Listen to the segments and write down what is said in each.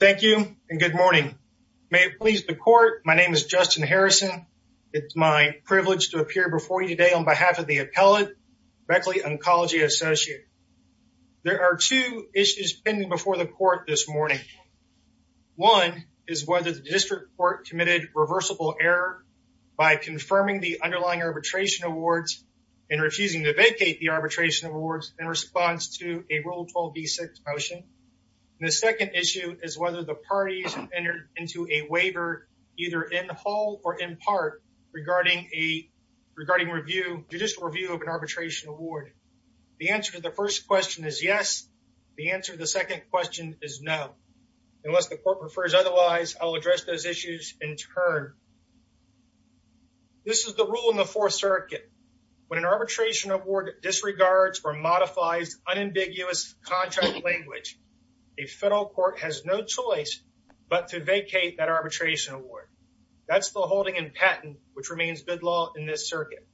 Thank you and good morning. May it please the court, my name is Justin Harrison. It's my privilege to appear before you today on behalf of the appellate, Beckley Oncology Associates. There are two issues pending before the court this morning. One is whether the district court committed reversible error by confirming the underlying arbitration awards and refusing to vacate the arbitration awards in response to a Rule 12b6 motion. The second issue is whether the parties entered into a waiver either in whole or in part regarding judicial review of an arbitration award. The answer to the first question is yes. The answer to the second question is no. Unless the court prefers otherwise, I'll address those issues in turn. This is the rule in the Fourth Circuit. When an arbitration award disregards or a federal court has no choice but to vacate that arbitration award, that's the holding in patent, which remains good law in this circuit.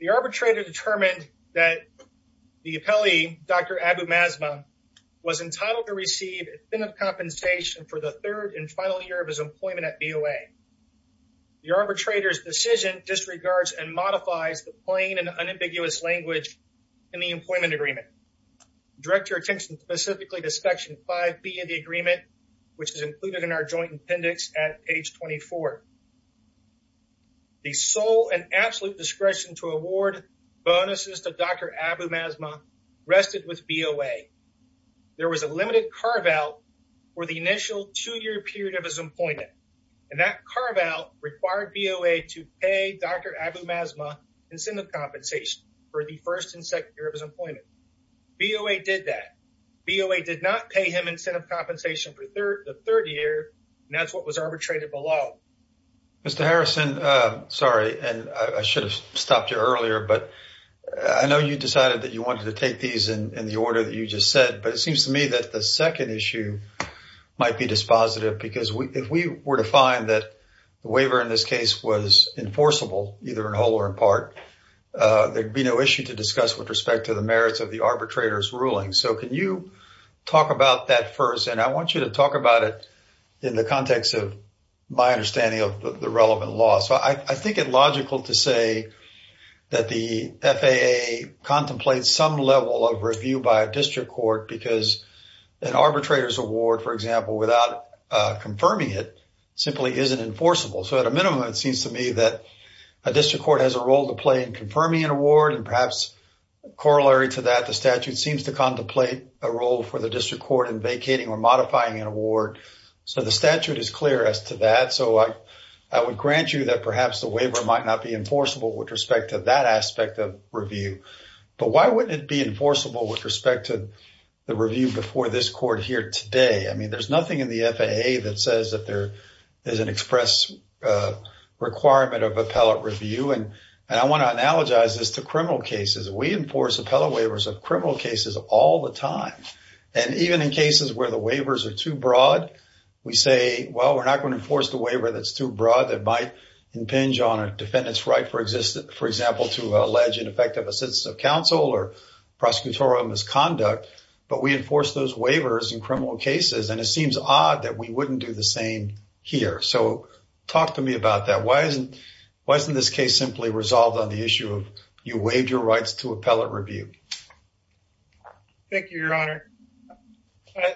The arbitrator determined that the appellee, Dr. Abumasmah, was entitled to receive a fin of compensation for the third and final year of his employment at BOA. The arbitrator's decision disregards and modifies the plain and unambiguous language in the employment agreement. Direct your attention specifically to Section 5b of the agreement, which is included in our joint appendix at page 24. The sole and absolute discretion to award bonuses to Dr. Abumasmah rested with BOA. There was a limited carve-out for the initial two-year period of his employment, and that carve-out required BOA to pay Dr. Abumasmah incentive compensation for the first and second year of his employment. BOA did that. BOA did not pay him incentive compensation for the third year, and that's what was arbitrated below. Mr. Harrison, sorry, and I should have stopped you earlier, but I know you decided that you wanted to take these in the order that you just said, but it seems to me that the second issue might be dispositive because if we were to find that the waiver in this case was enforceable, either in whole or in part, there'd be no issue to discuss with respect to the merits of the arbitrator's ruling. So can you talk about that first? And I want you to talk about it in the context of my understanding of the relevant law. So I think it logical to say that the FAA contemplates some level of review by a district court because an arbitrator's award, for example, without confirming it simply isn't enforceable. So at a minimum, it seems to me that a district court has a role to play in confirming an award, and perhaps corollary to that, the statute seems to contemplate a role for the district court in vacating or modifying an award. So the statute is clear as to that. So I would grant you that perhaps the waiver might not be enforceable with respect to that aspect of review. But why wouldn't it be enforceable with respect to the review before this court here today? I mean, there's express requirement of appellate review, and I want to analogize this to criminal cases. We enforce appellate waivers of criminal cases all the time. And even in cases where the waivers are too broad, we say, well, we're not going to enforce the waiver that's too broad that might impinge on a defendant's right, for example, to allege ineffective assistance of counsel or prosecutorial misconduct. But we enforce those waivers in criminal cases, and it seems odd that we wouldn't do the same here. So talk to me about that. Why isn't this case simply resolved on the issue of you waived your rights to appellate review? Thank you, Your Honor.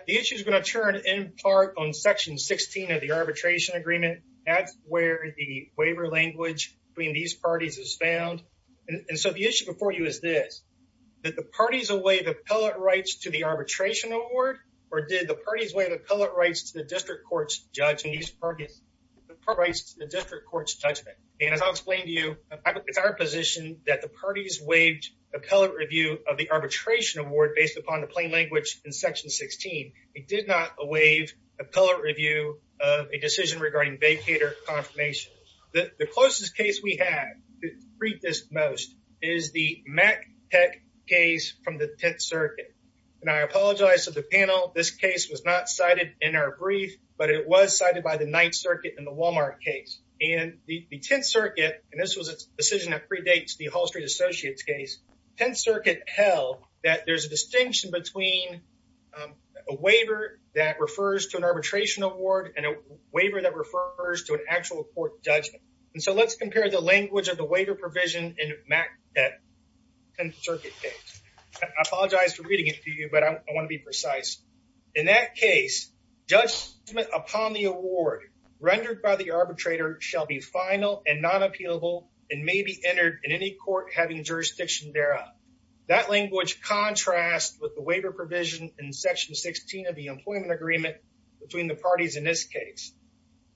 The issue is going to turn in part on section 16 of the arbitration agreement. That's where the waiver language between these parties is found. And so the issue before you is this, did the parties away the appellate rights to the arbitration award, or did the parties waive appellate rights to the district court's judgment? And as I'll explain to you, it's our position that the parties waived appellate review of the arbitration award based upon the plain language in section 16. It did not waive appellate review of a decision regarding vacator confirmation. The closest case we have to prove this most is the Mac Tech case from the in our brief, but it was cited by the Ninth Circuit in the Walmart case. And the Tenth Circuit, and this was a decision that predates the Hall Street Associates case, Tenth Circuit held that there's a distinction between a waiver that refers to an arbitration award and a waiver that refers to an actual court judgment. And so let's compare the language of the waiver provision in Mac Tech's Tenth Circuit case. I apologize for reading it to you, but I want to be precise. In that case, judgment upon the award rendered by the arbitrator shall be final and non-appealable and may be entered in any court having jurisdiction thereof. That language contrasts with the waiver provision in section 16 of the employment agreement between the parties in this case.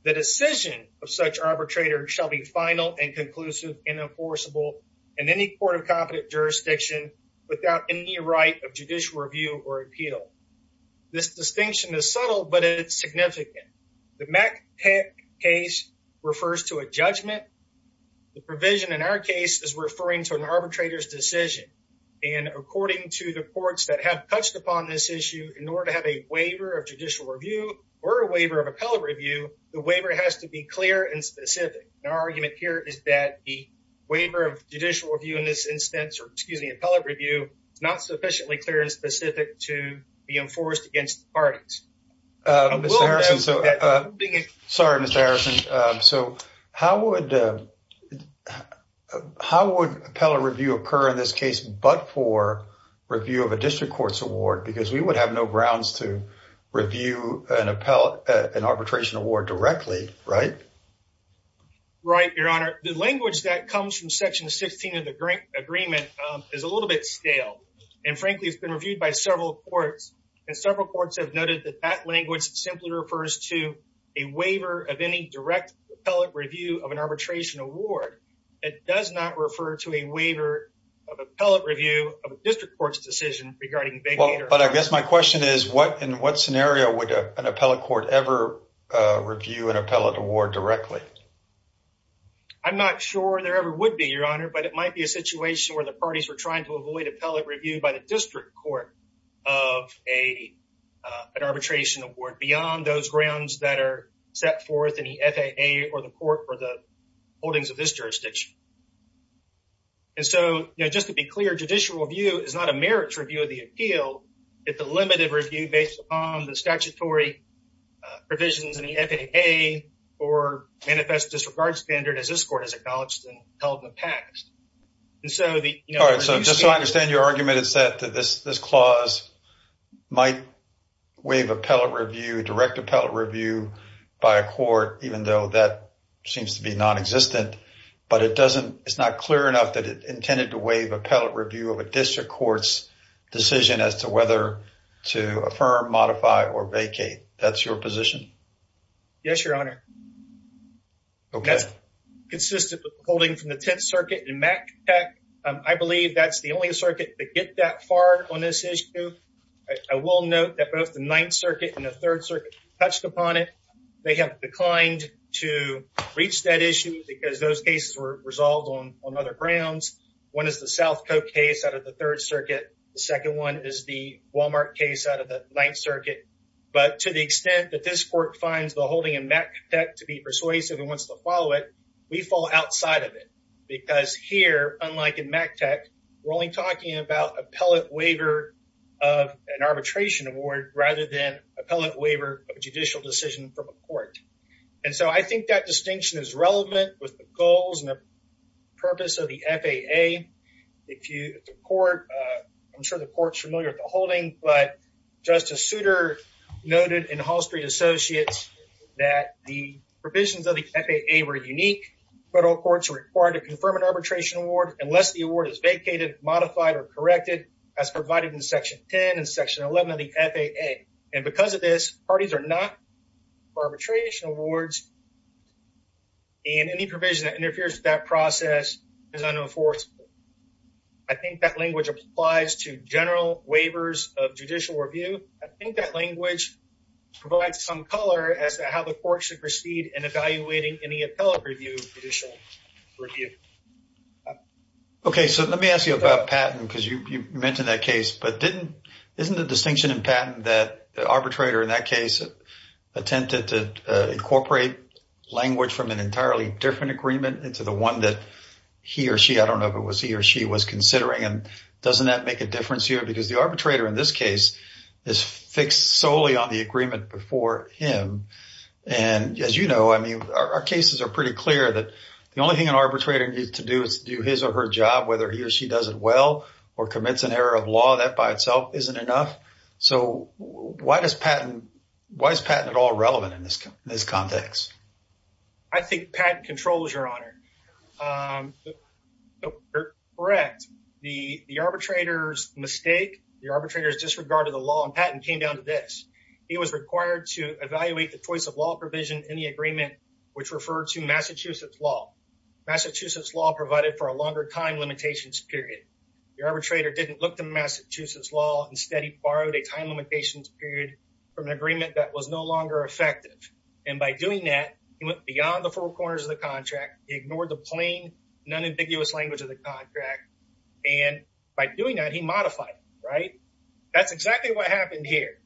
The decision of such arbitrator shall be final and conclusive and enforceable in any court of competent jurisdiction without any right of judicial review or appeal. This distinction is subtle, but it's significant. The Mac Tech case refers to a judgment. The provision in our case is referring to an arbitrator's decision. And according to the courts that have touched upon this issue, in order to have a waiver of judicial review or a waiver of appellate review, the waiver has to be clear and specific. And our argument here is that the waiver of judicial review in this instance, or excuse me, appellate review, is not sufficiently clear and specific to be enforced against the parties. Sorry, Mr. Harrison. So how would appellate review occur in this case but for review of a district court's award? Because we would have no grounds to review an arbitration award directly, right? Right, Your Honor. The language that comes from section 16 of the agreement is a little bit stale. And frankly, it's been reviewed by several courts. And several courts have noted that that language simply refers to a waiver of any direct appellate review of an arbitration award. It does not refer to a waiver of appellate review of a district court's decision regarding... But I guess my question is, in what scenario would an appellate court ever review an appellate award directly? I'm not sure there ever would be, Your Honor, but it might be a situation where the parties were trying to avoid appellate review by the district court of an arbitration award beyond those grounds that are set forth in the FAA or the court for the holdings of this jurisdiction. And so, you know, just to be clear, judicial review is not a review based upon the statutory provisions in the FAA or manifest disregard standard as this court has acknowledged and held in the past. And so the... All right, so just so I understand your argument, it's that this clause might waive appellate review, direct appellate review by a court, even though that seems to be non-existent. But it's not clear enough that intended to waive appellate review of a district court's decision as to whether to affirm, modify, or vacate. That's your position? Yes, Your Honor. Okay. That's consistent with holding from the Tenth Circuit and MACTEC. I believe that's the only circuit to get that far on this issue. I will note that both the Ninth Circuit and the Third Circuit touched upon it. They have declined to reach that issue because those cases were resolved on other grounds. One is the South Coke case out of the Third Circuit. The second one is the Walmart case out of the Ninth Circuit. But to the extent that this court finds the holding in MACTEC to be persuasive and wants to follow it, we fall outside of it. Because here, unlike in MACTEC, we're only talking about appellate waiver of an arbitration award rather than appellate waiver of a judicial decision from a district court. I think that distinction is relevant with the goals and the purpose of the FAA. I'm sure the court is familiar with the holding, but Justice Souter noted in Hall Street Associates that the provisions of the FAA were unique. Federal courts are required to confirm an arbitration award unless the award is vacated, modified, or corrected as provided in Section 10 of the FAA. And because of this, parties are not for arbitration awards and any provision that interferes with that process is unenforceable. I think that language applies to general waivers of judicial review. I think that language provides some color as to how the court should proceed in evaluating any appellate judicial review. Okay, so let me ask you about Patton because you the distinction in Patton that the arbitrator in that case attempted to incorporate language from an entirely different agreement into the one that he or she, I don't know if it was he or she, was considering. And doesn't that make a difference here? Because the arbitrator in this case is fixed solely on the agreement before him. And as you know, I mean, our cases are pretty clear that the only thing an arbitrator needs to do is do his or her job, whether he or she does it well or commits an error of law, that by itself isn't enough. So why is Patton at all relevant in this context? I think Patton controls, Your Honor. Correct. The arbitrator's mistake, the arbitrator's disregard of the law in Patton came down to this. He was required to evaluate the choice of law provision in the agreement, which referred to Massachusetts law. Massachusetts law provided for a longer time limitations period. The arbitrator didn't look to Massachusetts law. Instead, he borrowed a time limitations period from an agreement that was no longer effective. And by doing that, he went beyond the four corners of the contract. He ignored the plain, non-ambiguous language of the contract. And by doing that, he modified it, right? That's exactly what happened here.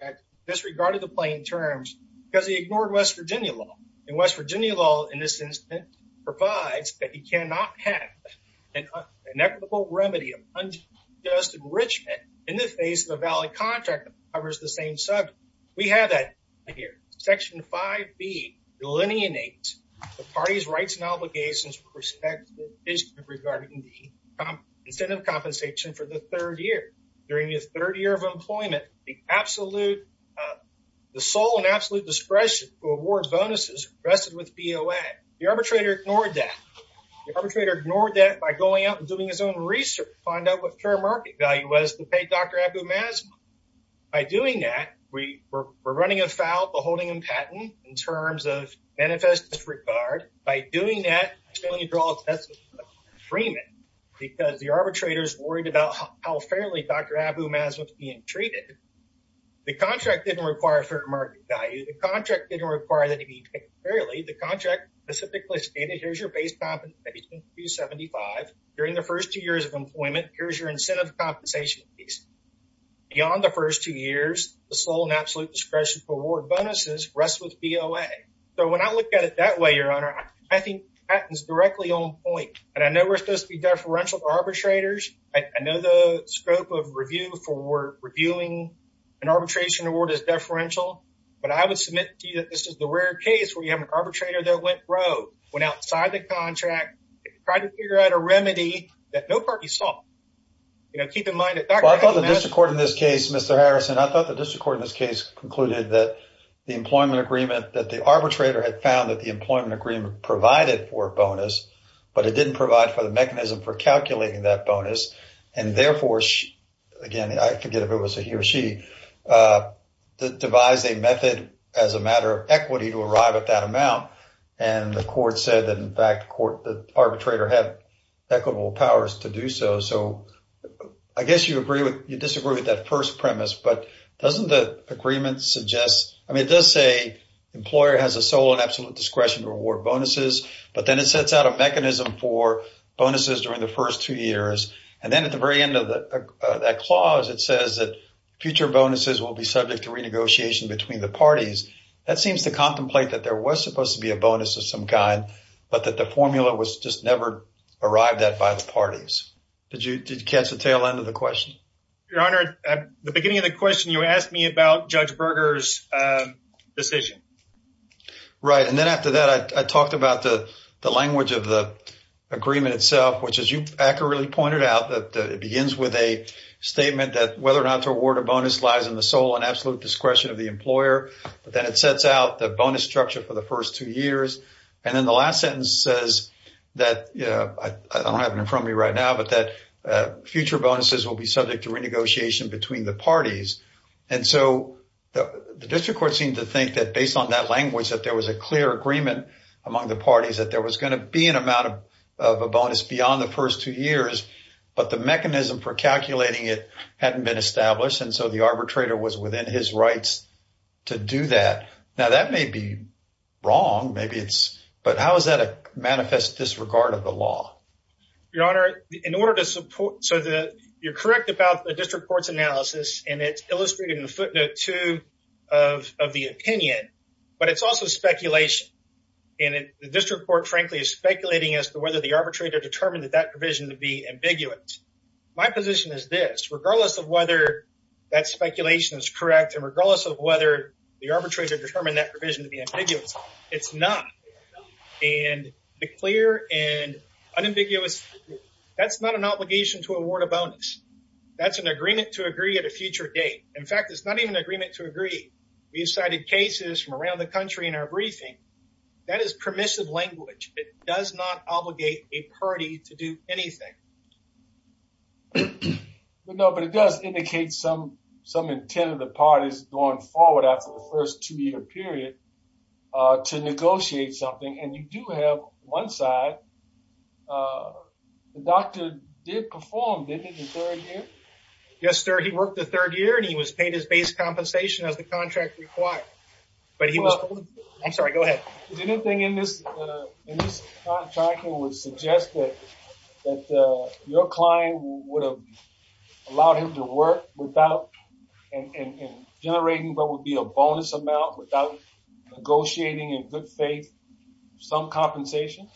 He disregarded the plain terms because he ignored West Virginia law. And West Virginia law, in this instance, provides that he cannot have an equitable remedy of unjust enrichment in the face of a valid contract that covers the same subject. We have that here. Section 5B delineates the party's rights and obligations with respect to the provision regarding the incentive compensation for the third year. During the third year of BOA, the arbitrator ignored that. The arbitrator ignored that by going out and doing his own research to find out what fair market value was to pay Dr. Abou-Mazmoum. By doing that, we were running afoul of the holding in Patton in terms of manifest disregard. By doing that, I'm going to draw a test of freement because the arbitrators worried about how fairly Dr. Abou-Mazmoum was being treated. The contract didn't require fair market value. The contract didn't require that he be paid fairly. The contract specifically stated, here's your base compensation, 275. During the first two years of employment, here's your incentive compensation fees. Beyond the first two years, the sole and absolute discretion for award bonuses rests with BOA. So when I look at it that way, Your Honor, I think Patton's directly on point. And I know we're supposed to be deferential arbitrators. I know the scope of review for reviewing an arbitration award is deferential. But I would submit to you that this is the rare case where you have an arbitrator that went rogue, went outside the contract, tried to figure out a remedy that no party saw. Keep in mind that Dr. Abou-Mazmoum- Well, I thought the district court in this case, Mr. Harrison, I thought the district court in this case concluded that the employment agreement that the arbitrator had found that the employment agreement provided for a bonus, but it didn't provide for the mechanism for calculating that bonus. And therefore, again, I forget if it was he or she devised a method as a matter of equity to arrive at that amount. And the court said that, in fact, the arbitrator had equitable powers to do so. So I guess you disagree with that first premise. But doesn't the agreement suggest, I mean, it does say employer has a sole and absolute discretion to award bonuses, but then it sets out a mechanism for bonuses during the first two years. And then at the very end of that clause, it says that future bonuses will be subject to renegotiation between the parties. That seems to contemplate that there was supposed to be a bonus of some kind, but that the formula was just never arrived at by the parties. Did you catch the tail end of the question? Your Honor, at the beginning of the question, you asked me about Judge Berger's decision. Right. And then after that, I talked about the language of the agreement itself, which as you accurately pointed out, that it begins with a statement that whether or not to award a bonus lies in the sole and absolute discretion of the employer. But then it sets out the bonus structure for the first two years. And then the last sentence says that, I don't have it in front of me right now, but that future bonuses will be subject to renegotiation between the parties. And so the district court seemed to think that based on that language, that there was clear agreement among the parties that there was going to be an amount of a bonus beyond the first two years, but the mechanism for calculating it hadn't been established. And so the arbitrator was within his rights to do that. Now, that may be wrong, but how is that a manifest disregard of the law? Your Honor, you're correct about the district court's analysis, and it's illustrated in footnote two of the opinion, but it's also speculation. And the district court, frankly, is speculating as to whether the arbitrator determined that that provision would be ambiguous. My position is this, regardless of whether that speculation is correct, and regardless of whether the arbitrator determined that provision to be ambiguous, it's not. And the clear and unambiguous, that's not an obligation to award a bonus. That's an agreement to agree at a future date. In fact, it's not even an agreement to agree. We've cited cases from around the country in our briefing. That is permissive language. It does not obligate a party to do anything. No, but it does indicate some intent of the parties going forward after the first two-year period to negotiate something. And you do have one side. The doctor did perform, didn't he, in third year? Yes, sir. He worked the third year, and he was paid his base compensation as the contract required. But he was... I'm sorry, go ahead. Did anything in this contract would suggest that your client would have allowed him to work without generating what would be a bonus amount without negotiating in good faith some compensation?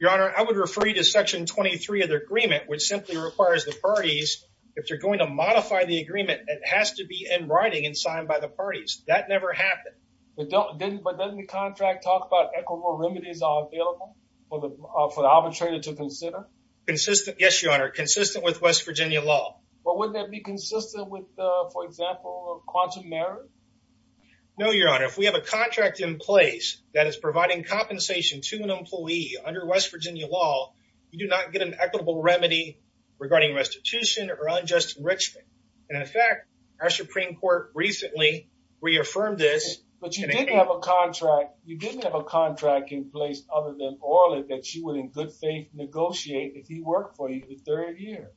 Your Honor, I would refer you to Section 23 of the agreement, which simply requires the parties, if you're going to modify the agreement, it has to be in writing and signed by the parties. That never happened. But doesn't the contract talk about equitable remedies are available for the arbitrator to consider? Consistent, yes, Your Honor. Consistent with West Virginia law. But wouldn't that be consistent with, for example, quantum merit? No, Your Honor. If we have a under West Virginia law, you do not get an equitable remedy regarding restitution or unjust enrichment. And in fact, our Supreme Court recently reaffirmed this. But you didn't have a contract. You didn't have a contract in place other than Orland that you would in good faith negotiate if he worked for you the third year.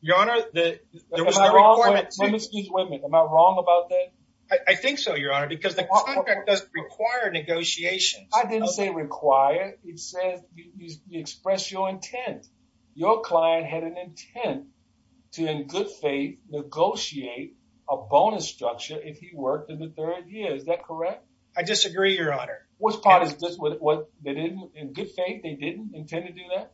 Your Honor, there was no requirement... Excuse me, am I wrong about that? I think so, Your Honor, because the contract doesn't require negotiations. I didn't say require. It says you express your intent. Your client had an intent to, in good faith, negotiate a bonus structure if he worked in the third year. Is that correct? I disagree, Your Honor. Which part is this? In good faith, they didn't intend to do that?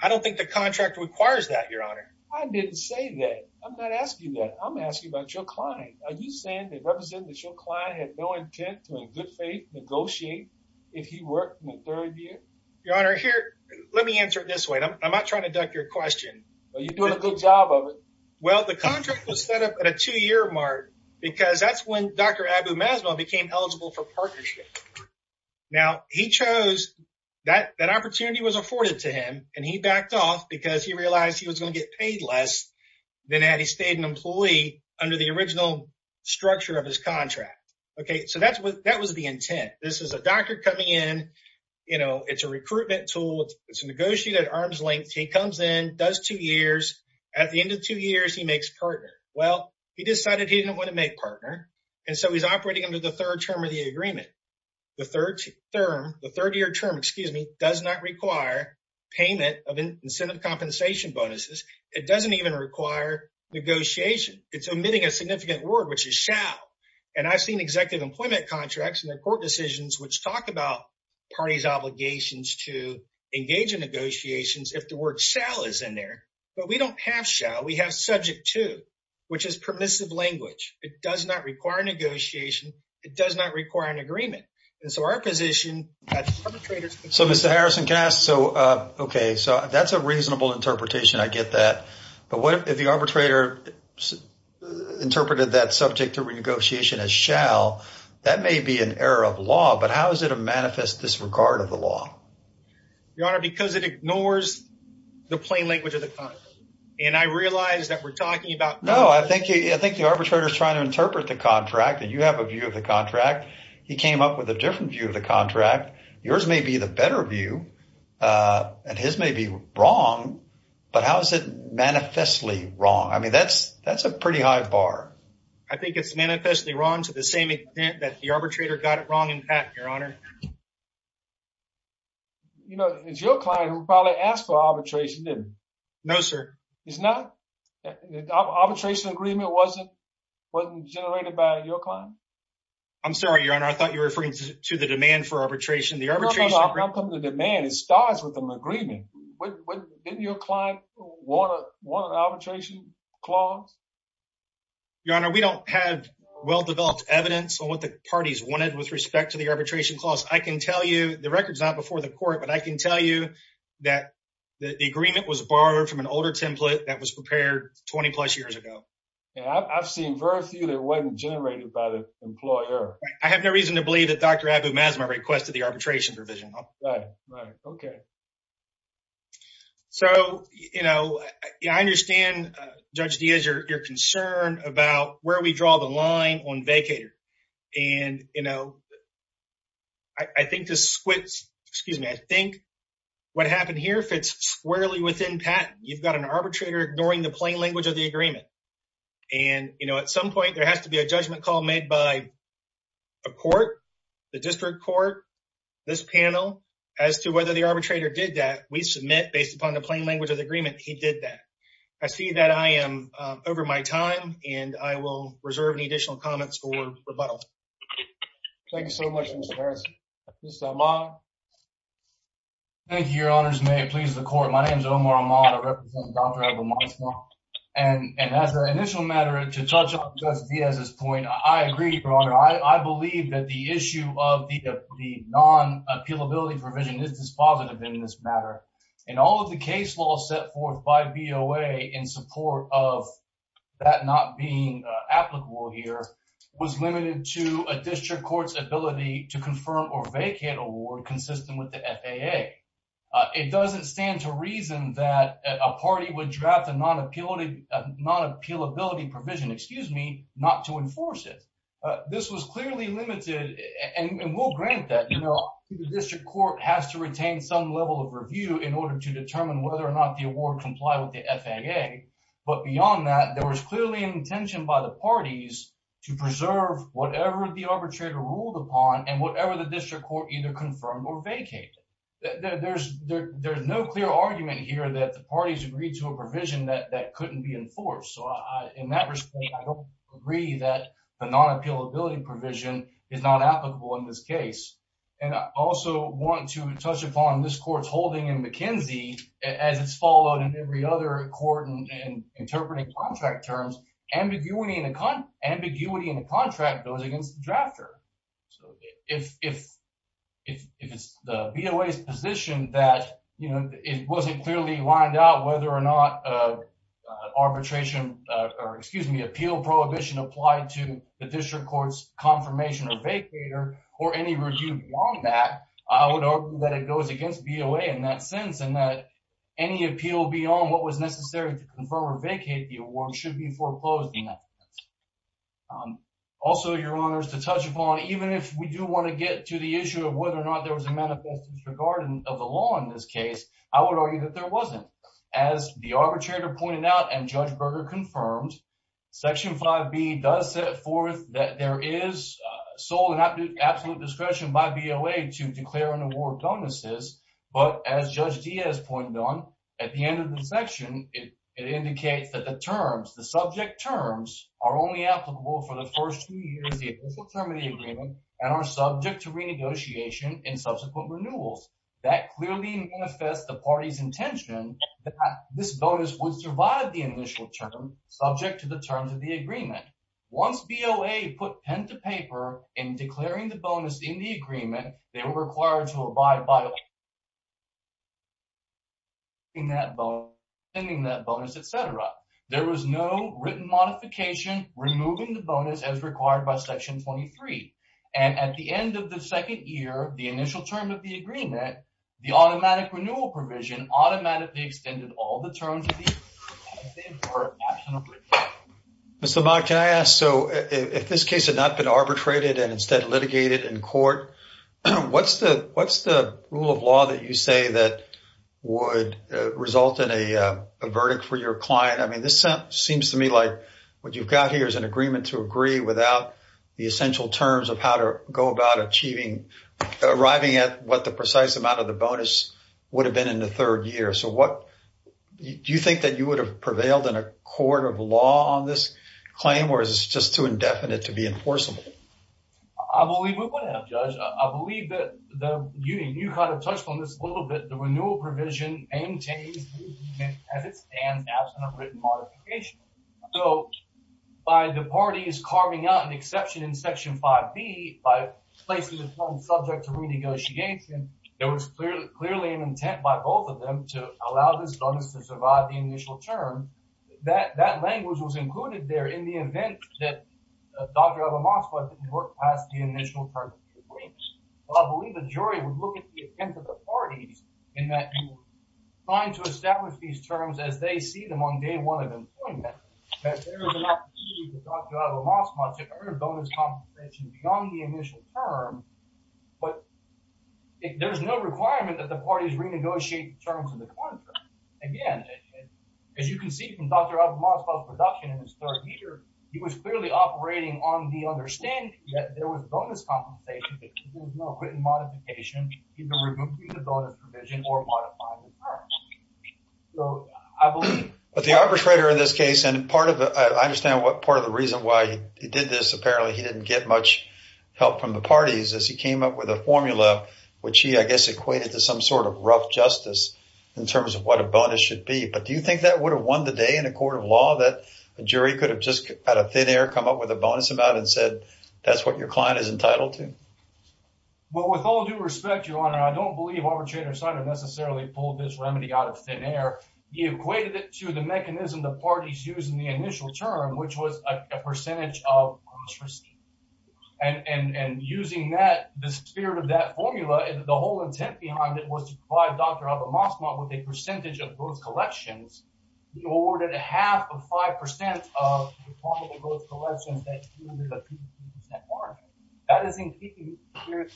I don't think the contract requires that, Your Honor. I didn't say that. I'm not asking that. I'm asking about your client. Are you saying they represent that your client had no intent to, in good faith, negotiate if he worked in the third year? Your Honor, here, let me answer it this way. I'm not trying to duck your question. Well, you're doing a good job of it. Well, the contract was set up at a two-year mark because that's when Dr. Abu Maslow became eligible for partnership. Now, he chose... That opportunity was afforded to him, and he backed off because he realized he was going to get paid less than had he stayed an employee under the original structure of his contract. Okay, so that was the intent. This is a doctor coming in. It's a recruitment tool. It's negotiated at arm's length. He comes in, does two years. At the end of two years, he makes partner. Well, he decided he didn't want to make partner, and so he's operating under the third term of the agreement. The third term, the third-year term, excuse me, does not require payment of incentive compensation bonuses. It doesn't even require negotiation. It's omitting a significant word, which is shall. And I've seen executive employment contracts and their court decisions, which talk about parties' obligations to engage in negotiations if the word shall is in there. But we don't have shall. We have subject to, which is permissive language. It does not require negotiation. It does not require an agreement. And so our position... So, Mr. Harrison, can I ask... Okay, so that's a reasonable interpretation. I get that. But what if the arbitrator interpreted that subject to renegotiation as shall? That may be an error of law, but how is it a manifest disregard of the law? Your Honor, because it ignores the plain language of the contract. And I realize that we're talking about... No, I think the arbitrator is trying to interpret the contract, and you have a view of the contract. He came up with a different view of the contract. Yours may be the better view, and his may be wrong, but how is it manifestly wrong? That's a pretty high bar. I think it's manifestly wrong to the same extent that the arbitrator got it wrong in patent, Your Honor. It's your client who probably asked for arbitration, didn't he? No, sir. It's not? The arbitration agreement wasn't generated by your client? I'm sorry, Your Honor. I thought you were referring to the demand for arbitration. The arbitration... No, no, no. I'm talking about the demand. It wasn't an arbitration clause. Your Honor, we don't have well-developed evidence on what the parties wanted with respect to the arbitration clause. I can tell you, the record's not before the court, but I can tell you that the agreement was borrowed from an older template that was prepared 20 plus years ago. I've seen very few that wasn't generated by the employer. I have no reason to believe that Dr. Abu Mazma requested the arbitration provision. Okay. So, I understand, Judge Diaz, your concern about where we draw the line on vacator. I think what happened here fits squarely within patent. You've got an arbitrator ignoring the plain language of the agreement. At some point, there has to be a judgment call made by a court, the district court, this panel, as to whether the arbitrator did that. We submit, based upon the plain language of the agreement, he did that. I see that I am over my time, and I will reserve any additional comments for rebuttal. Thank you so much, Mr. Harris. Mr. Amar? Thank you, Your Honors. May it please the court. My name's Omar Amar. I represent Dr. Abu Mazma. And as an initial matter, to touch on Judge Diaz's point, I agree, Your Honor. I believe that the issue of the non-appealability provision is dispositive in this matter. And all of the case law set forth by BOA in support of that not being applicable here was limited to a district court's ability to confirm or vacate award consistent with the FAA. It doesn't stand to reason that a party would draft a non-appealability provision, excuse me, not to enforce it. This was clearly limited, and we'll grant that. The district court has to retain some level of review in order to determine whether or not the award complied with the FAA. But beyond that, there was clearly an intention by the parties to preserve whatever the arbitrator ruled upon and whatever the district court either that couldn't be enforced. So in that respect, I don't agree that the non-appealability provision is not applicable in this case. And I also want to touch upon this court's holding in McKinsey as it's followed in every other court in interpreting contract terms. Ambiguity in a contract goes against the drafter. So if it's the BOA's position that it wasn't clearly lined out whether or not arbitration or, excuse me, appeal prohibition applied to the district court's confirmation or vacater or any review beyond that, I would argue that it goes against BOA in that sense and that any appeal beyond what was necessary to confirm or vacate the award should be foreclosed in that sense. Also, Your Honors, to touch upon, even if we do want to get to the issue of whether or not there was a manifest disregard of the law in this case, I would argue that there wasn't. As the arbitrator pointed out and Judge Berger confirmed, Section 5B does set forth that there is sole and absolute discretion by BOA to declare and award bonuses, but as Judge Diaz pointed on at the end of the section, it indicates that the terms, the subject terms, are only applicable for the first two years, the official term of the agreement, and are subject to that this bonus would survive the initial term, subject to the terms of the agreement. Once BOA put pen to paper in declaring the bonus in the agreement, they were required to abide by pending that bonus, etc. There was no written modification removing the bonus as required by Section 23, and at the end of the second year, the initial term of the agreement, the automatic renewal provision automatically extended all the terms. Mr. Mauck, can I ask, so if this case had not been arbitrated and instead litigated in court, what's the rule of law that you say that would result in a verdict for your client? I mean, this seems to me like what you've got here is an agreement to agree without the essential terms of how to go about achieving, arriving at what the precise amount of the bonus would have been in the third year. Do you think that you would have prevailed in a court of law on this claim, or is this just too indefinite to be enforceable? I believe we would have, Judge. I believe that you kind of touched on this a little bit. The renewal provision maintains the agreement as it stands, absent a written modification. So, by the parties carving out an exception in Section 5B, by placing the term subject to renegotiation, there was clearly an intent by both of them to allow this bonus to survive the initial term. That language was included there in the event that Dr. Abbas-Moskva didn't work past the initial terms of the agreement. Well, I believe the jury would look at the intent of the parties in that you were trying to establish these terms as they see them on day one of employment, that there is an opportunity for Dr. Abbas-Moskva to earn bonus compensation beyond the initial term, but there's no requirement that the parties renegotiate the terms of the contract. Again, as you can see from Dr. Abbas-Moskva's production in his third year, he was clearly operating on the understanding that there was bonus compensation, that there was no written modification, either removing the bonus provision or modifying the arbitrator in this case. And I understand what part of the reason why he did this. Apparently, he didn't get much help from the parties as he came up with a formula, which he, I guess, equated to some sort of rough justice in terms of what a bonus should be. But do you think that would have won the day in a court of law that a jury could have just had a thin air come up with a bonus amount and said, that's what your client is entitled to? Well, with all due respect, Your Honor, I don't believe arbitrator Snyder necessarily pulled this remedy out of thin air. He equated it to the mechanism the parties used in the initial term, which was a percentage of bonus received. And using that, the spirit of that formula, the whole intent behind it was to provide Dr. Abbas-Moskva with a percentage of those collections. He awarded a half of 5% of the formula to those collections that yielded a 52% margin. That is in keeping with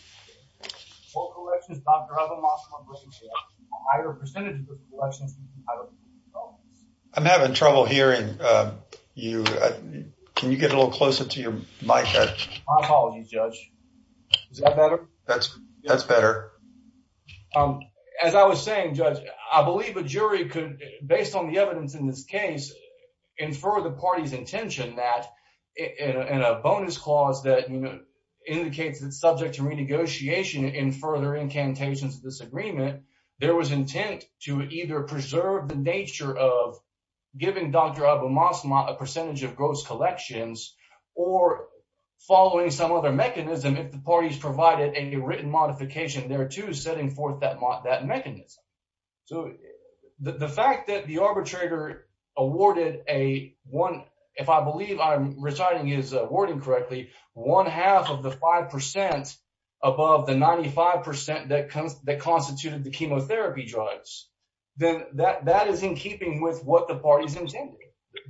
all collections, Dr. Abbas-Moskva raised a higher percentage of the collections. I'm having trouble hearing you. Can you get a little closer to your mic? My apologies, Judge. Is that better? That's better. As I was saying, Judge, I believe a jury could, based on the evidence in this case, infer the party's intention that in a bonus clause that indicates it's subject to negotiation in further incantations of this agreement, there was intent to either preserve the nature of giving Dr. Abbas-Moskva a percentage of gross collections or following some other mechanism if the parties provided a written modification thereto setting forth that mechanism. So the fact that the arbitrator awarded a one, if I believe I'm reciting his wording correctly, one half of the 5% above the 95% that constituted the chemotherapy drugs, then that is in keeping with what the parties intended.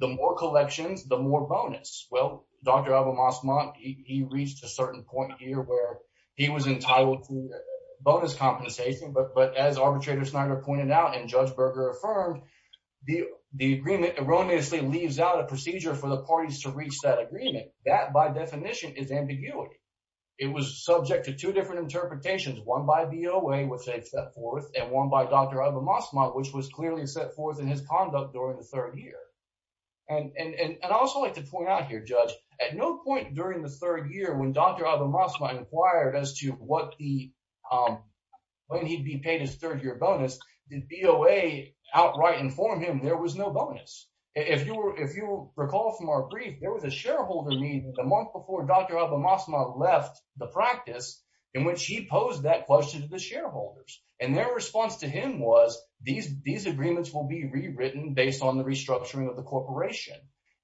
The more collections, the more bonus. Well, Dr. Abbas-Moskva, he reached a certain point here where he was entitled to bonus compensation, but as arbitrator Snyder pointed out and Judge Berger affirmed, the agreement erroneously leaves out a procedure for the parties to reach that agreement. That, by definition, is ambiguity. It was subject to two different interpretations, one by BOA, which they set forth, and one by Dr. Abbas-Moskva, which was clearly set forth in his conduct during the third year. And I'd also like to point out here, Judge, at no point during the third year when Dr. Abbas-Moskva inquired as to when he'd be paid his third year bonus, did BOA outright inform him there was no bonus. If you recall from our brief, there was a shareholder meeting the month before Dr. Abbas-Moskva left the practice in which he posed that question to the shareholders. And their response to him was, these agreements will be rewritten based on the restructuring of the corporation,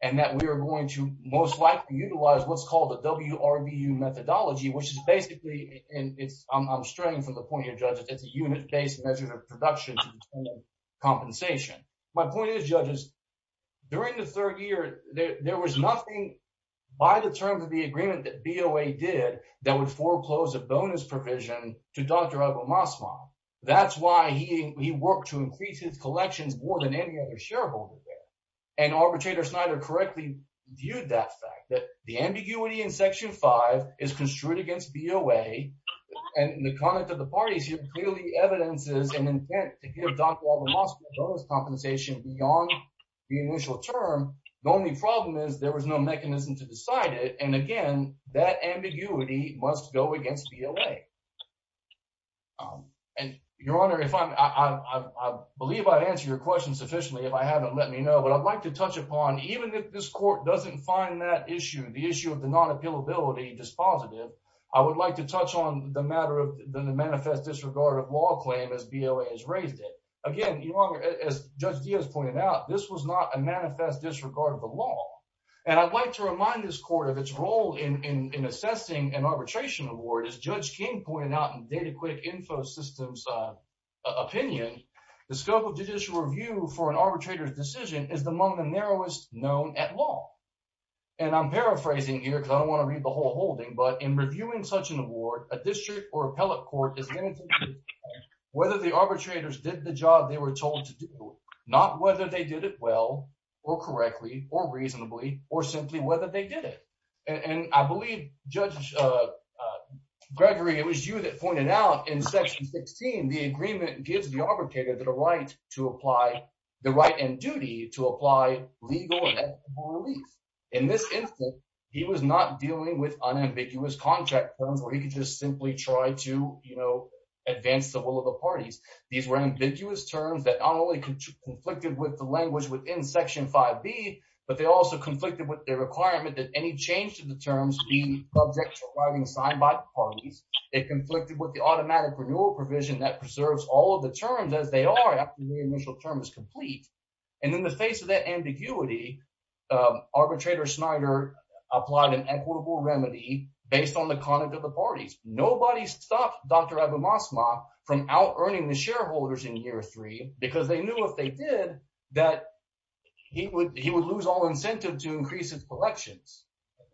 and that we are going to most likely utilize what's called a WRVU methodology, which is basically, and I'm straying from the point here, Judge, it's a unit-based measure of production to tool compensation. My point is, during the third year, there was nothing by the terms of the agreement that BOA did that would foreclose a bonus provision to Dr. Abbas-Moskva. That's why he worked to increase his collections more than any other shareholder there. And Arbitrator Snyder correctly viewed that fact, that the ambiguity in Section 5 is construed against BOA, and in the comment of the parties, clearly evidence is an intent to give Dr. Abbas-Moskva bonus compensation beyond the initial term. The only problem is there was no mechanism to decide it. And again, that ambiguity must go against BOA. And Your Honor, I believe I've answered your question sufficiently. If I haven't, let me know. But I'd like to touch upon, even if this court doesn't find that issue, the issue of the non-appealability dispositive, I would like to touch on the matter than the manifest disregard of law claim as BOA has raised it. Again, Your Honor, as Judge Diaz pointed out, this was not a manifest disregard of the law. And I'd like to remind this court of its role in assessing an arbitration award. As Judge King pointed out in Dataquick Infosystems' opinion, the scope of judicial review for an arbitrator's decision is among the narrowest known at law. And I'm paraphrasing here, because I don't want to read the whole court. Whether the arbitrators did the job they were told to do, not whether they did it well, or correctly, or reasonably, or simply whether they did it. And I believe Judge Gregory, it was you that pointed out in Section 16, the agreement gives the arbitrator the right to apply the right and duty to apply legal relief. In this instance, he was not dealing with unambiguous contract terms where he could just simply try to, you know, advance the will of the parties. These were ambiguous terms that not only conflicted with the language within Section 5b, but they also conflicted with the requirement that any change to the terms be subject to arriving signed by the parties. It conflicted with the automatic renewal provision that preserves all of the terms as they are after the initial term is complete. And in the face of that ambiguity, arbitrator Snyder applied an equitable remedy based on the conduct of the parties. Nobody stopped Dr. Abomasma from out-earning the shareholders in year three, because they knew if they did, that he would lose all incentive to increase his collections.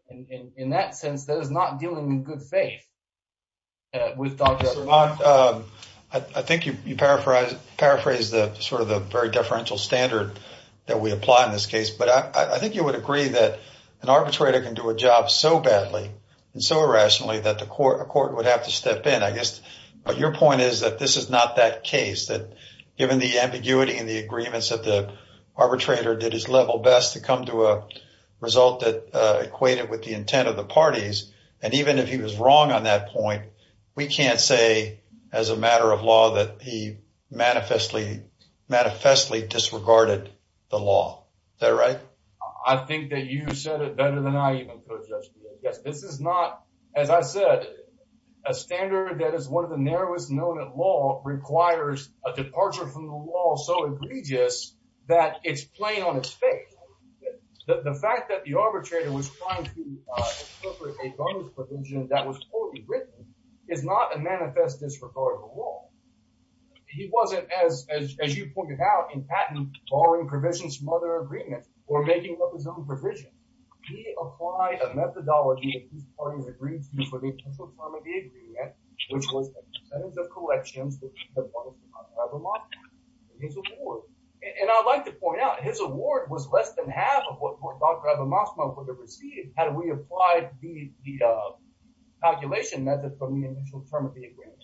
And in that sense, that is not dealing in good faith with Dr. Abomasma. I think you paraphrased sort of the very differential standard that we apply in this case. But I think you would agree that an arbitrator can do a job so badly and so irrationally that a court would have to step in, I guess. But your point is that this is not that case, that given the ambiguity and the agreements that the arbitrator did his level best to come to a result that equated with the intent of the parties. And even if he was wrong on that point, we can't say as a matter of law that he manifestly disregarded the law. Is that right? I think that you said it better than I even could, Judge DeGioia. Yes, this is not, as I said, a standard that is one of the narrowest known at law requires a departure from the law so egregious that it's plain on its face. The fact that the arbitrator was trying to incorporate a bonus provision that was poorly written is not a standard. As you pointed out, in patent, borrowing provisions from other agreements or making up his own provision, he applied a methodology that these parties agreed to for the initial term of the agreement, which was a percentage of collections that he had borrowed from Dr. Abbamasma for his award. And I'd like to point out his award was less than half of what Dr. Abbamasma would have received had we applied the calculation method from the initial term of the agreement.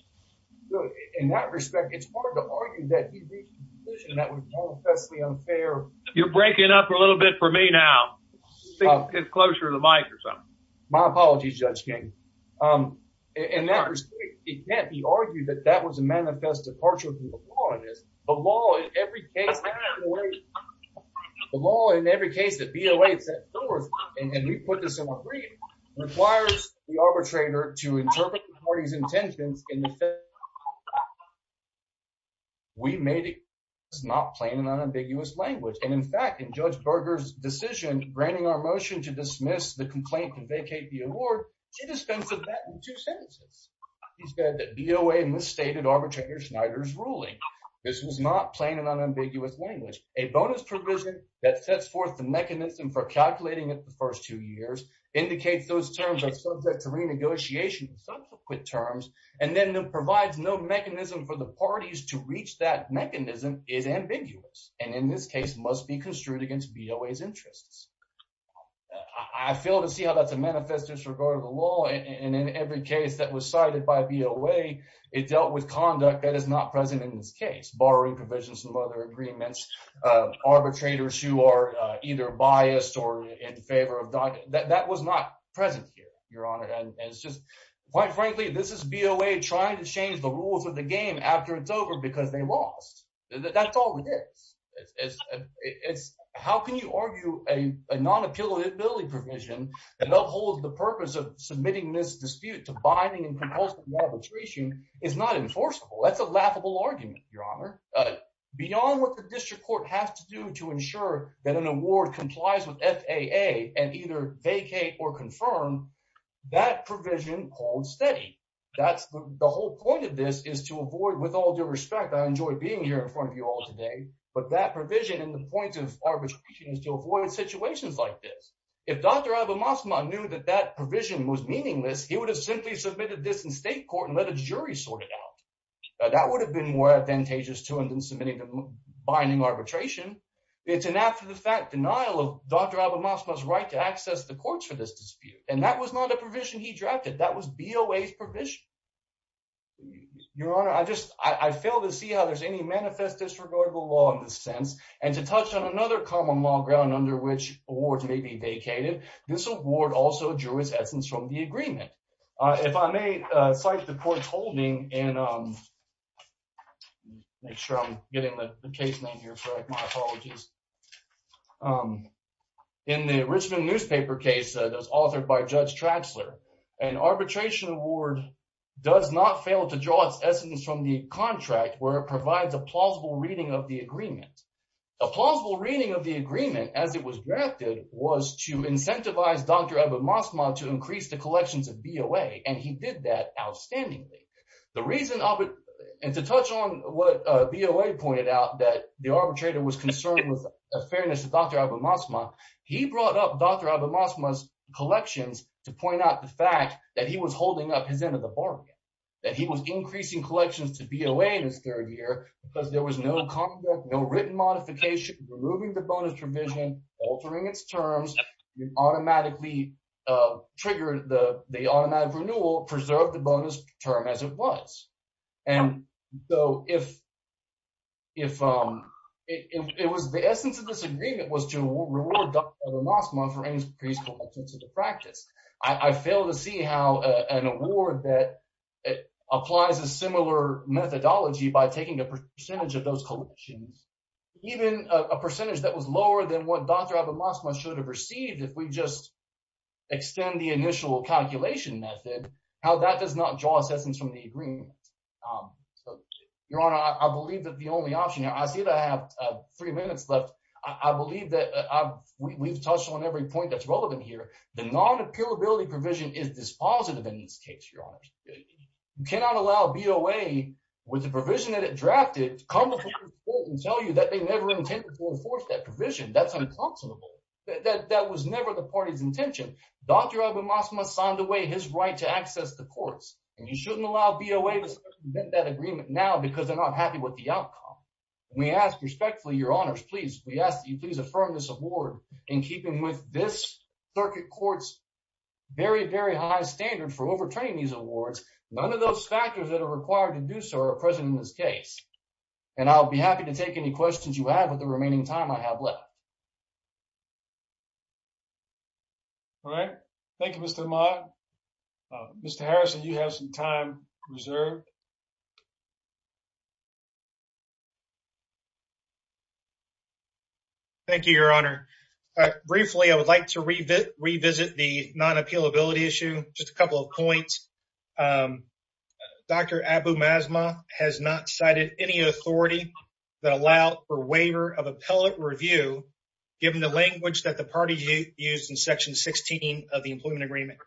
In that respect, it's hard to argue that he reached a decision that was manifestly unfair. You're breaking up a little bit for me now. Get closer to the mic or something. My apologies, Judge King. In that respect, it can't be argued that that was a manifest departure from the law. It is. The law in every case, the law in every case that BOA set forth, and we put this in the agreement, requires the arbitrator to interpret the party's intentions We made it. It's not plain and unambiguous language. And in fact, in Judge Berger's decision, granting our motion to dismiss the complaint and vacate the award, she dispensed with that in two sentences. She said that BOA misstated arbitrator Snyder's ruling. This was not plain and unambiguous language. A bonus provision that sets forth the mechanism for calculating it the first two years, indicates those terms are subject to renegotiation in subsequent terms, and then provides no mechanism for the parties to reach that mechanism is ambiguous, and in this case must be construed against BOA's interests. I fail to see how that's a manifest disregard of the law, and in every case that was cited by BOA, it dealt with conduct that is not present in this case. Borrowing provisions from other agreements, arbitrators who are either biased or in favor of that, that was not present here, Your Honor. And it's just, quite frankly, this is BOA trying to change the rules of the game after it's over because they lost. That's all it is. It's how can you argue a non-appealability provision that upholds the purpose of submitting this dispute to binding and compulsory arbitration is not enforceable. That's a laughable argument, Your Honor. Beyond what the district court has to do to ensure that an award complies with FAA and either vacate or confirm, that provision holds steady. That's the whole point of this, is to avoid, with all due respect, I enjoy being here in front of you all today, but that provision and the point of arbitration is to avoid situations like this. If Dr. Abbasma knew that that provision was meaningless, he would have simply submitted this in state court and let a jury sort it out. That would have been more advantageous to him than submitting to binding arbitration. It's an after-the-fact denial of Dr. Abbasma's right to access the courts for this dispute. And that was not a provision he drafted. That was BOA's provision. Your Honor, I just, I fail to see how there's any manifest disregard for law in this sense. And to touch on another common law ground under which awards may be vacated, this award also drew its essence from the agreement. If I may cite the court's holding, and make sure I'm getting the case name here correct, my apologies. In the Richmond newspaper case that was authored by Judge Traxler, an arbitration award does not fail to draw its essence from the contract where it provides a plausible reading of the agreement. A plausible reading of the agreement, as it was drafted, was to incentivize Dr. Abbasma to increase the collections of BOA, and he did that outstandingly. The reason, and to touch on what BOA pointed out, that the arbitrator was concerned with a fairness to Dr. Abbasma, he brought up Dr. Abbasma's collections to point out the fact that he was holding up his end of the bargain, that he was increasing collections to BOA in his third year because there was no conduct, no written modification, removing the bonus provision, altering its terms, it automatically triggered the automatic renewal, preserved the bonus term as it was. And so, the essence of this agreement was to reward Dr. Abbasma for increased collections of the practice. I fail to see how an award that applies a similar methodology by taking a percentage of those collections, even a percentage that was lower than what Dr. Abbasma should have received if we just extend the initial calculation method, how that does not draw its essence from the agreement. Your Honor, I believe that the only option, I see that I have three minutes left. I believe that we've touched on every point that's relevant here. The non-appealability provision is dispositive in this case, Your Honor. You cannot allow BOA with the provision that it drafted to come before the court and tell you that they never intended to enforce that provision. That's unconscionable. That was never the party's intention. Dr. Abbasma signed away his right to access the courts. And you shouldn't allow BOA to submit that agreement now because they're not happy with the outcome. We ask respectfully, Your Honors, please, we ask that you please affirm this award in keeping with this circuit court's very, very high standard for overturning these awards. None of those factors that are required to do so are present in this case. And I'll be happy to take any questions you have with the remaining time I have left. All right. Thank you, Mr. Ahmad. Mr. Harrison, you have some time reserved. Thank you, Your Honor. Briefly, I would like to revisit the non-appealability issue, just a couple of points. Dr. Abbasma has not cited any authority that allowed for waiver of appellate review given the language that the party used in Section 16 of the Employment Agreement.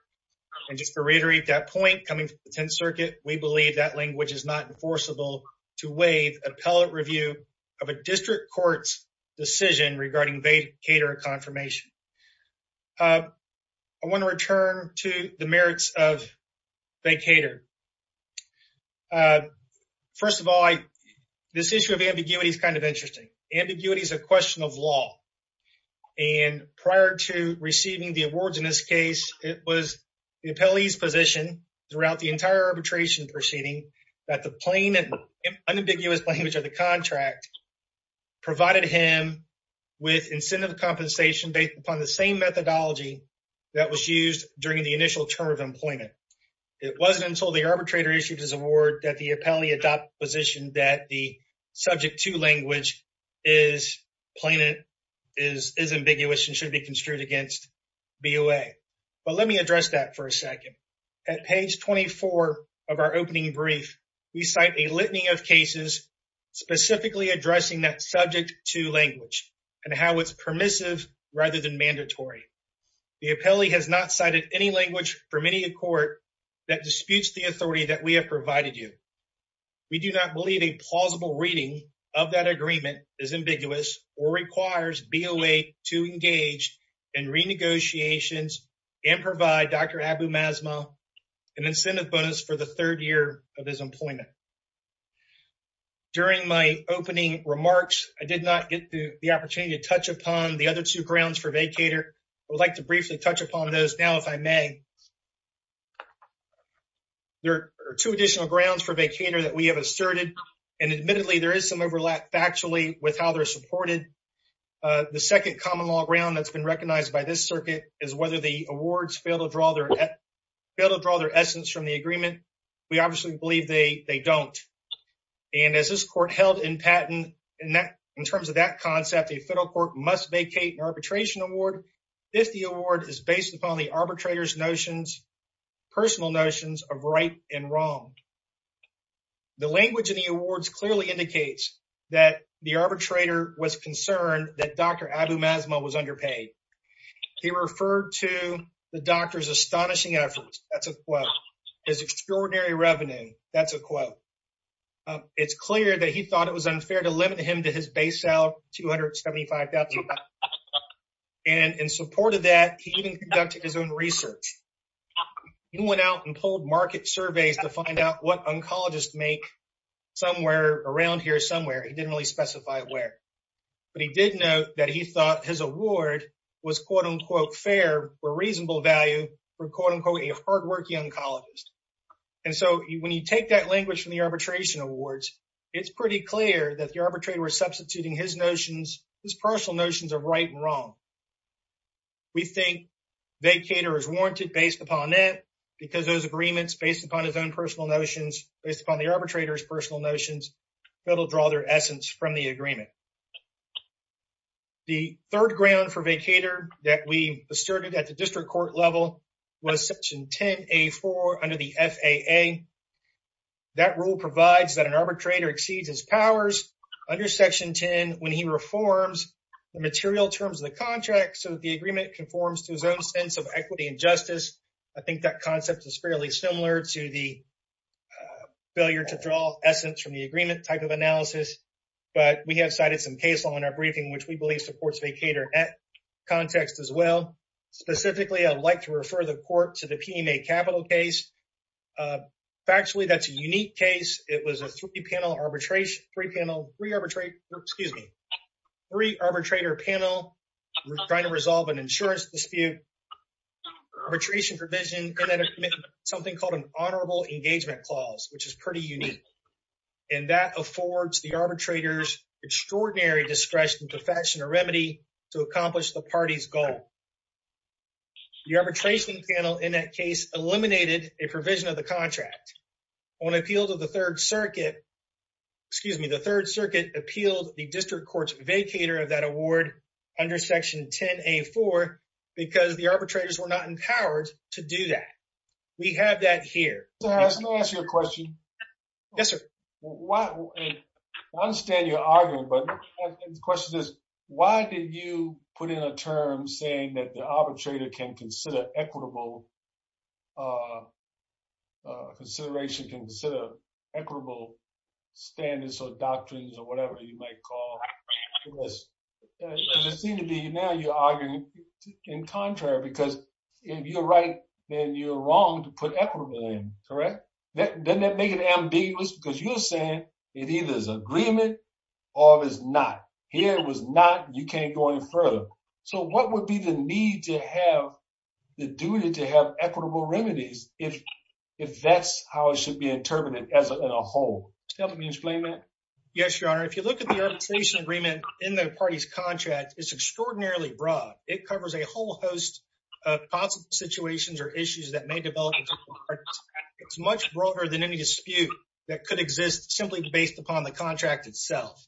And just to reiterate that point coming from the Tenth Circuit, we believe that language is not enforceable to waive appellate review of a district court's decision regarding vacator confirmation. I want to return to the merits of vacator. First of all, this issue of ambiguity is kind of interesting. Ambiguity is a question of law. And prior to receiving the awards in this case, it was the appellee's position throughout the entire arbitration proceeding that the plain unambiguous language of the contract provided him with incentive compensation based upon the same methodology that was used during the initial term of employment. It wasn't until the arbitrator issued his award that the appellee adopted the position that the subject to language is plain and is ambiguous and should be construed against BOA. But let me address that for a second. At page 24 of our opening brief, we cite a litany of cases specifically addressing that subject to language and how it's permissive rather than mandatory. The appellee has not cited any language from any court that disputes the authority that we have provided you. We do not believe a plausible reading of that agreement is ambiguous or requires BOA to engage in renegotiations and provide Dr. Abu Mazma an incentive bonus for the third year of his employment. During my opening remarks, I did not get the opportunity to touch upon the other two grounds for vacator. I would like to briefly touch upon those now if I may. There are two additional grounds for vacator that we have asserted. And admittedly, there is some overlap factually with how they're supported. The second common law ground that's been recognized by this circuit is whether the awards fail to draw their essence from the agreement. We obviously believe they don't. And as this court held in patent in terms of that concept, the federal court must vacate an arbitration award if the award is based upon the arbitrator's personal notions of right and wrong. The language in the awards clearly indicates that the arbitrator was concerned that Dr. Abu Mazma was underpaid. He referred to the doctor's astonishing efforts. That's a quote. His extraordinary revenue. That's a quote. It's clear that he thought it was unfair to limit him to his base salary, $275,000. And in support of that, he even conducted his own research. He went out and pulled market surveys to find out what oncologists make somewhere around here somewhere. He didn't really specify where. But he did note that he thought his award was, quote, unquote, fair or reasonable value for, quote, unquote, a hardworking oncologist. And so when you take that language from the arbitration awards, it's pretty clear that the arbitrator was substituting his notions, his personal notions of right and wrong. We think vacater is warranted based upon that because those agreements based upon his own personal notions, based upon the arbitrator's personal notions, that'll draw their essence from the agreement. The third ground for vacater that we asserted at the district court level was Section 10A4 under the FAA. That rule provides that an arbitrator exceeds his powers under Section 10 when he reforms the material terms of the contract so that the agreement conforms to his own sense of equity and justice. I think that concept is fairly similar to the failure to draw essence from the agreement type of analysis. But we have cited some case law in our briefing, which we believe supports vacater at context as well. Specifically, I'd like to refer the court to the PMA capital case. Uh, factually, that's a unique case. It was a three-panel arbitration, three-panel, three-arbitrate, excuse me, three-arbitrator panel trying to resolve an insurance dispute, arbitration provision, and then something called an honorable engagement clause, which is pretty unique. And that affords the arbitrator's extraordinary discretion to fashion a remedy to accomplish the party's goal. The arbitration panel in that case eliminated a provision of the contract. When appealed to the Third Circuit, excuse me, the Third Circuit appealed the district court's vacater of that award under Section 10A4 because the arbitrators were not empowered to do that. We have that here. Let me ask you a question. Yes, sir. I understand you're arguing, but the question is, why did you put in a term saying that the uh, consideration can consider equitable standards or doctrines or whatever you might call this? Because it seemed to be now you're arguing in contrary, because if you're right, then you're wrong to put equitable in, correct? Doesn't that make it ambiguous? Because you're saying it either is agreement or it is not. Here, it was not. You can't go any further. So, what would be the need to have the duty to have equitable remedies if that's how it should be interpreted as a whole? Can you explain that? Yes, your honor. If you look at the arbitration agreement in the party's contract, it's extraordinarily broad. It covers a whole host of possible situations or issues that may develop. It's much broader than any dispute that could exist simply based upon the contract itself.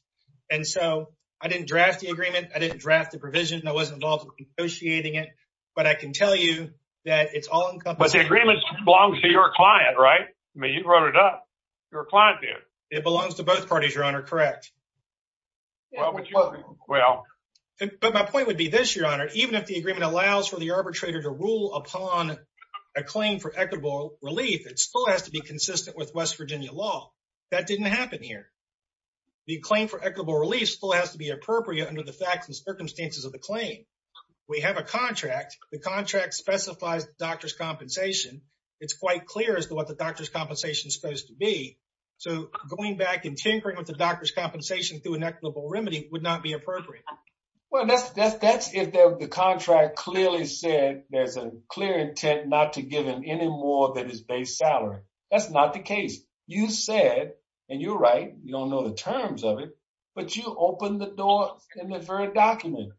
And so, I didn't draft the agreement. I wasn't involved in negotiating it. But I can tell you that it's all encompassing. But the agreement belongs to your client, right? I mean, you wrote it up. Your client did. It belongs to both parties, your honor. Correct. But my point would be this, your honor. Even if the agreement allows for the arbitrator to rule upon a claim for equitable relief, it still has to be consistent with West Virginia law. That didn't happen here. The claim for equitable relief still has to be appropriate under the facts and circumstances of the claim. We have a contract. The contract specifies the doctor's compensation. It's quite clear as to what the doctor's compensation is supposed to be. So, going back and tinkering with the doctor's compensation through an equitable remedy would not be appropriate. Well, that's if the contract clearly said there's a clear intent not to give him any more than his base salary. That's not the case. You said, and you're right, you don't know the terms of it, but you open the door in the very document.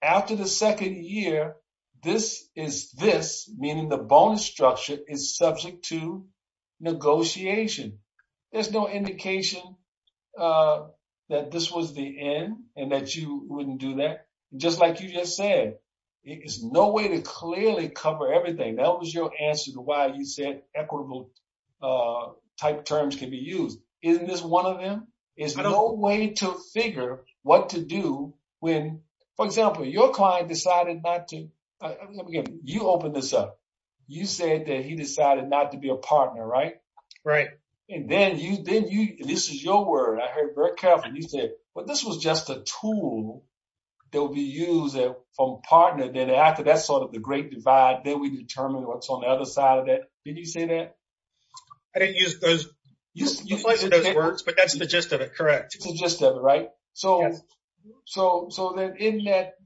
After the second year, this is this, meaning the bonus structure is subject to negotiation. There's no indication that this was the end and that you wouldn't do that. Just like you just said, it is no way to clearly cover everything. That was your answer to why you said equitable type terms can be used. Isn't this one of them? There's no way to figure what to do when, for example, your client decided not to, you open this up. You said that he decided not to be a partner, right? Right. And then you, this is your word. I heard very carefully. You said, well, this was just a tool that will be used from partner. Then after that's sort of the great divide, then we determine what's on the other side of that. Did you say that? I didn't use those words, but that's the gist of it. Correct. It's the gist of it, right? So then in that,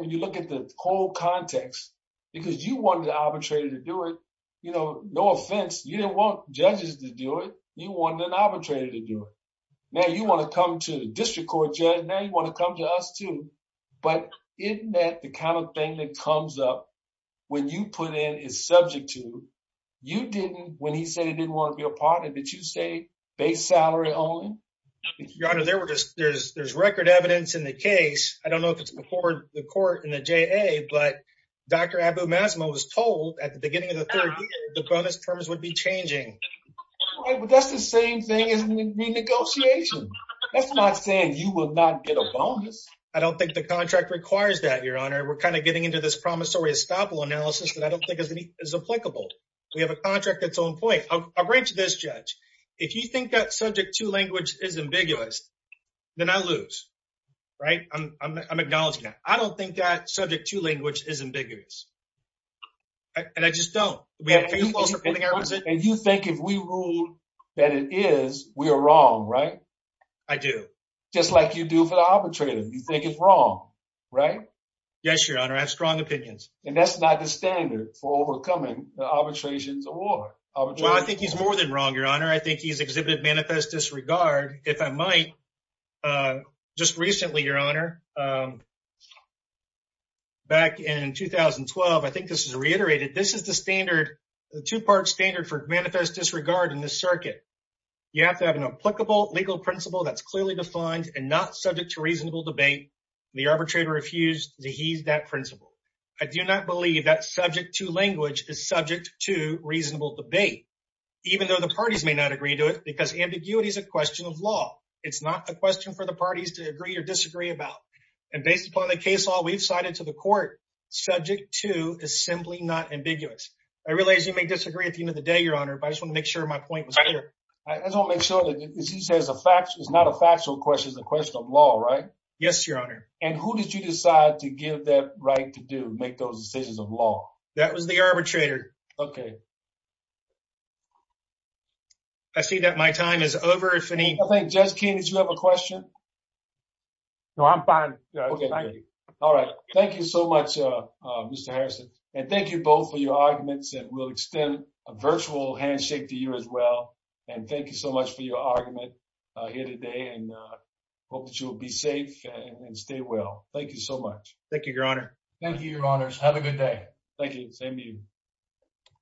when you look at the whole context, because you wanted the arbitrator to do it, no offense, you didn't want judges to do it. You wanted an arbitrator to do it. Now you want to come to the district court judge. Now you want to come to us too. But isn't that the kind of thing that comes up when you put in is subject to, you didn't, when he said he didn't want to be a partner, did you say base salary only? Your Honor, there were just, there's record evidence in the case. I don't know if it's before the court in the JA, but Dr. Abu Mazma was told at the beginning of the third year, the bonus terms would be changing. Right, but that's the same thing as renegotiation. That's not saying you will not get a bonus. I don't think the contract requires that, we're kind of getting into this promissory estoppel analysis that I don't think is applicable. We have a contract that's on point. I'll break to this judge. If you think that subject two language is ambiguous, then I lose, right? I'm acknowledging that. I don't think that subject two language is ambiguous and I just don't. And you think if we ruled that it is, we are wrong, right? I do. Just like you do for the arbitrator. You think it's wrong, right? Yes, Your Honor. I have strong opinions and that's not the standard for overcoming the arbitrations award. I think he's more than wrong, Your Honor. I think he's exhibited manifest disregard. If I might, just recently, Your Honor, back in 2012, I think this is reiterated. This is the standard, the two part standard for manifest disregard in this circuit. You have to have an applicable legal principle that's clearly defined and not subject to reasonable debate. The arbitrator refused to use that principle. I do not believe that subject to language is subject to reasonable debate, even though the parties may not agree to it because ambiguity is a question of law. It's not a question for the parties to agree or disagree about. And based upon the case law we've cited to the court, subject to is simply not ambiguous. I realize you may disagree at the end of the day, Your Honor, but I just want to make sure my point was clear. I just want to make sure it's not a factual question, it's a question of law, right? Yes, Your Honor. And who did you decide to give that right to do, make those decisions of law? That was the arbitrator. Okay. I see that my time is over, if any... Judge King, did you have a question? No, I'm fine. All right. Thank you so much, Mr. Harrison. And thank you both for your argument here today and hope that you'll be safe and stay well. Thank you so much. Thank you, Your Honor. Thank you, Your Honors. Have a good day. Thank you. Same to you.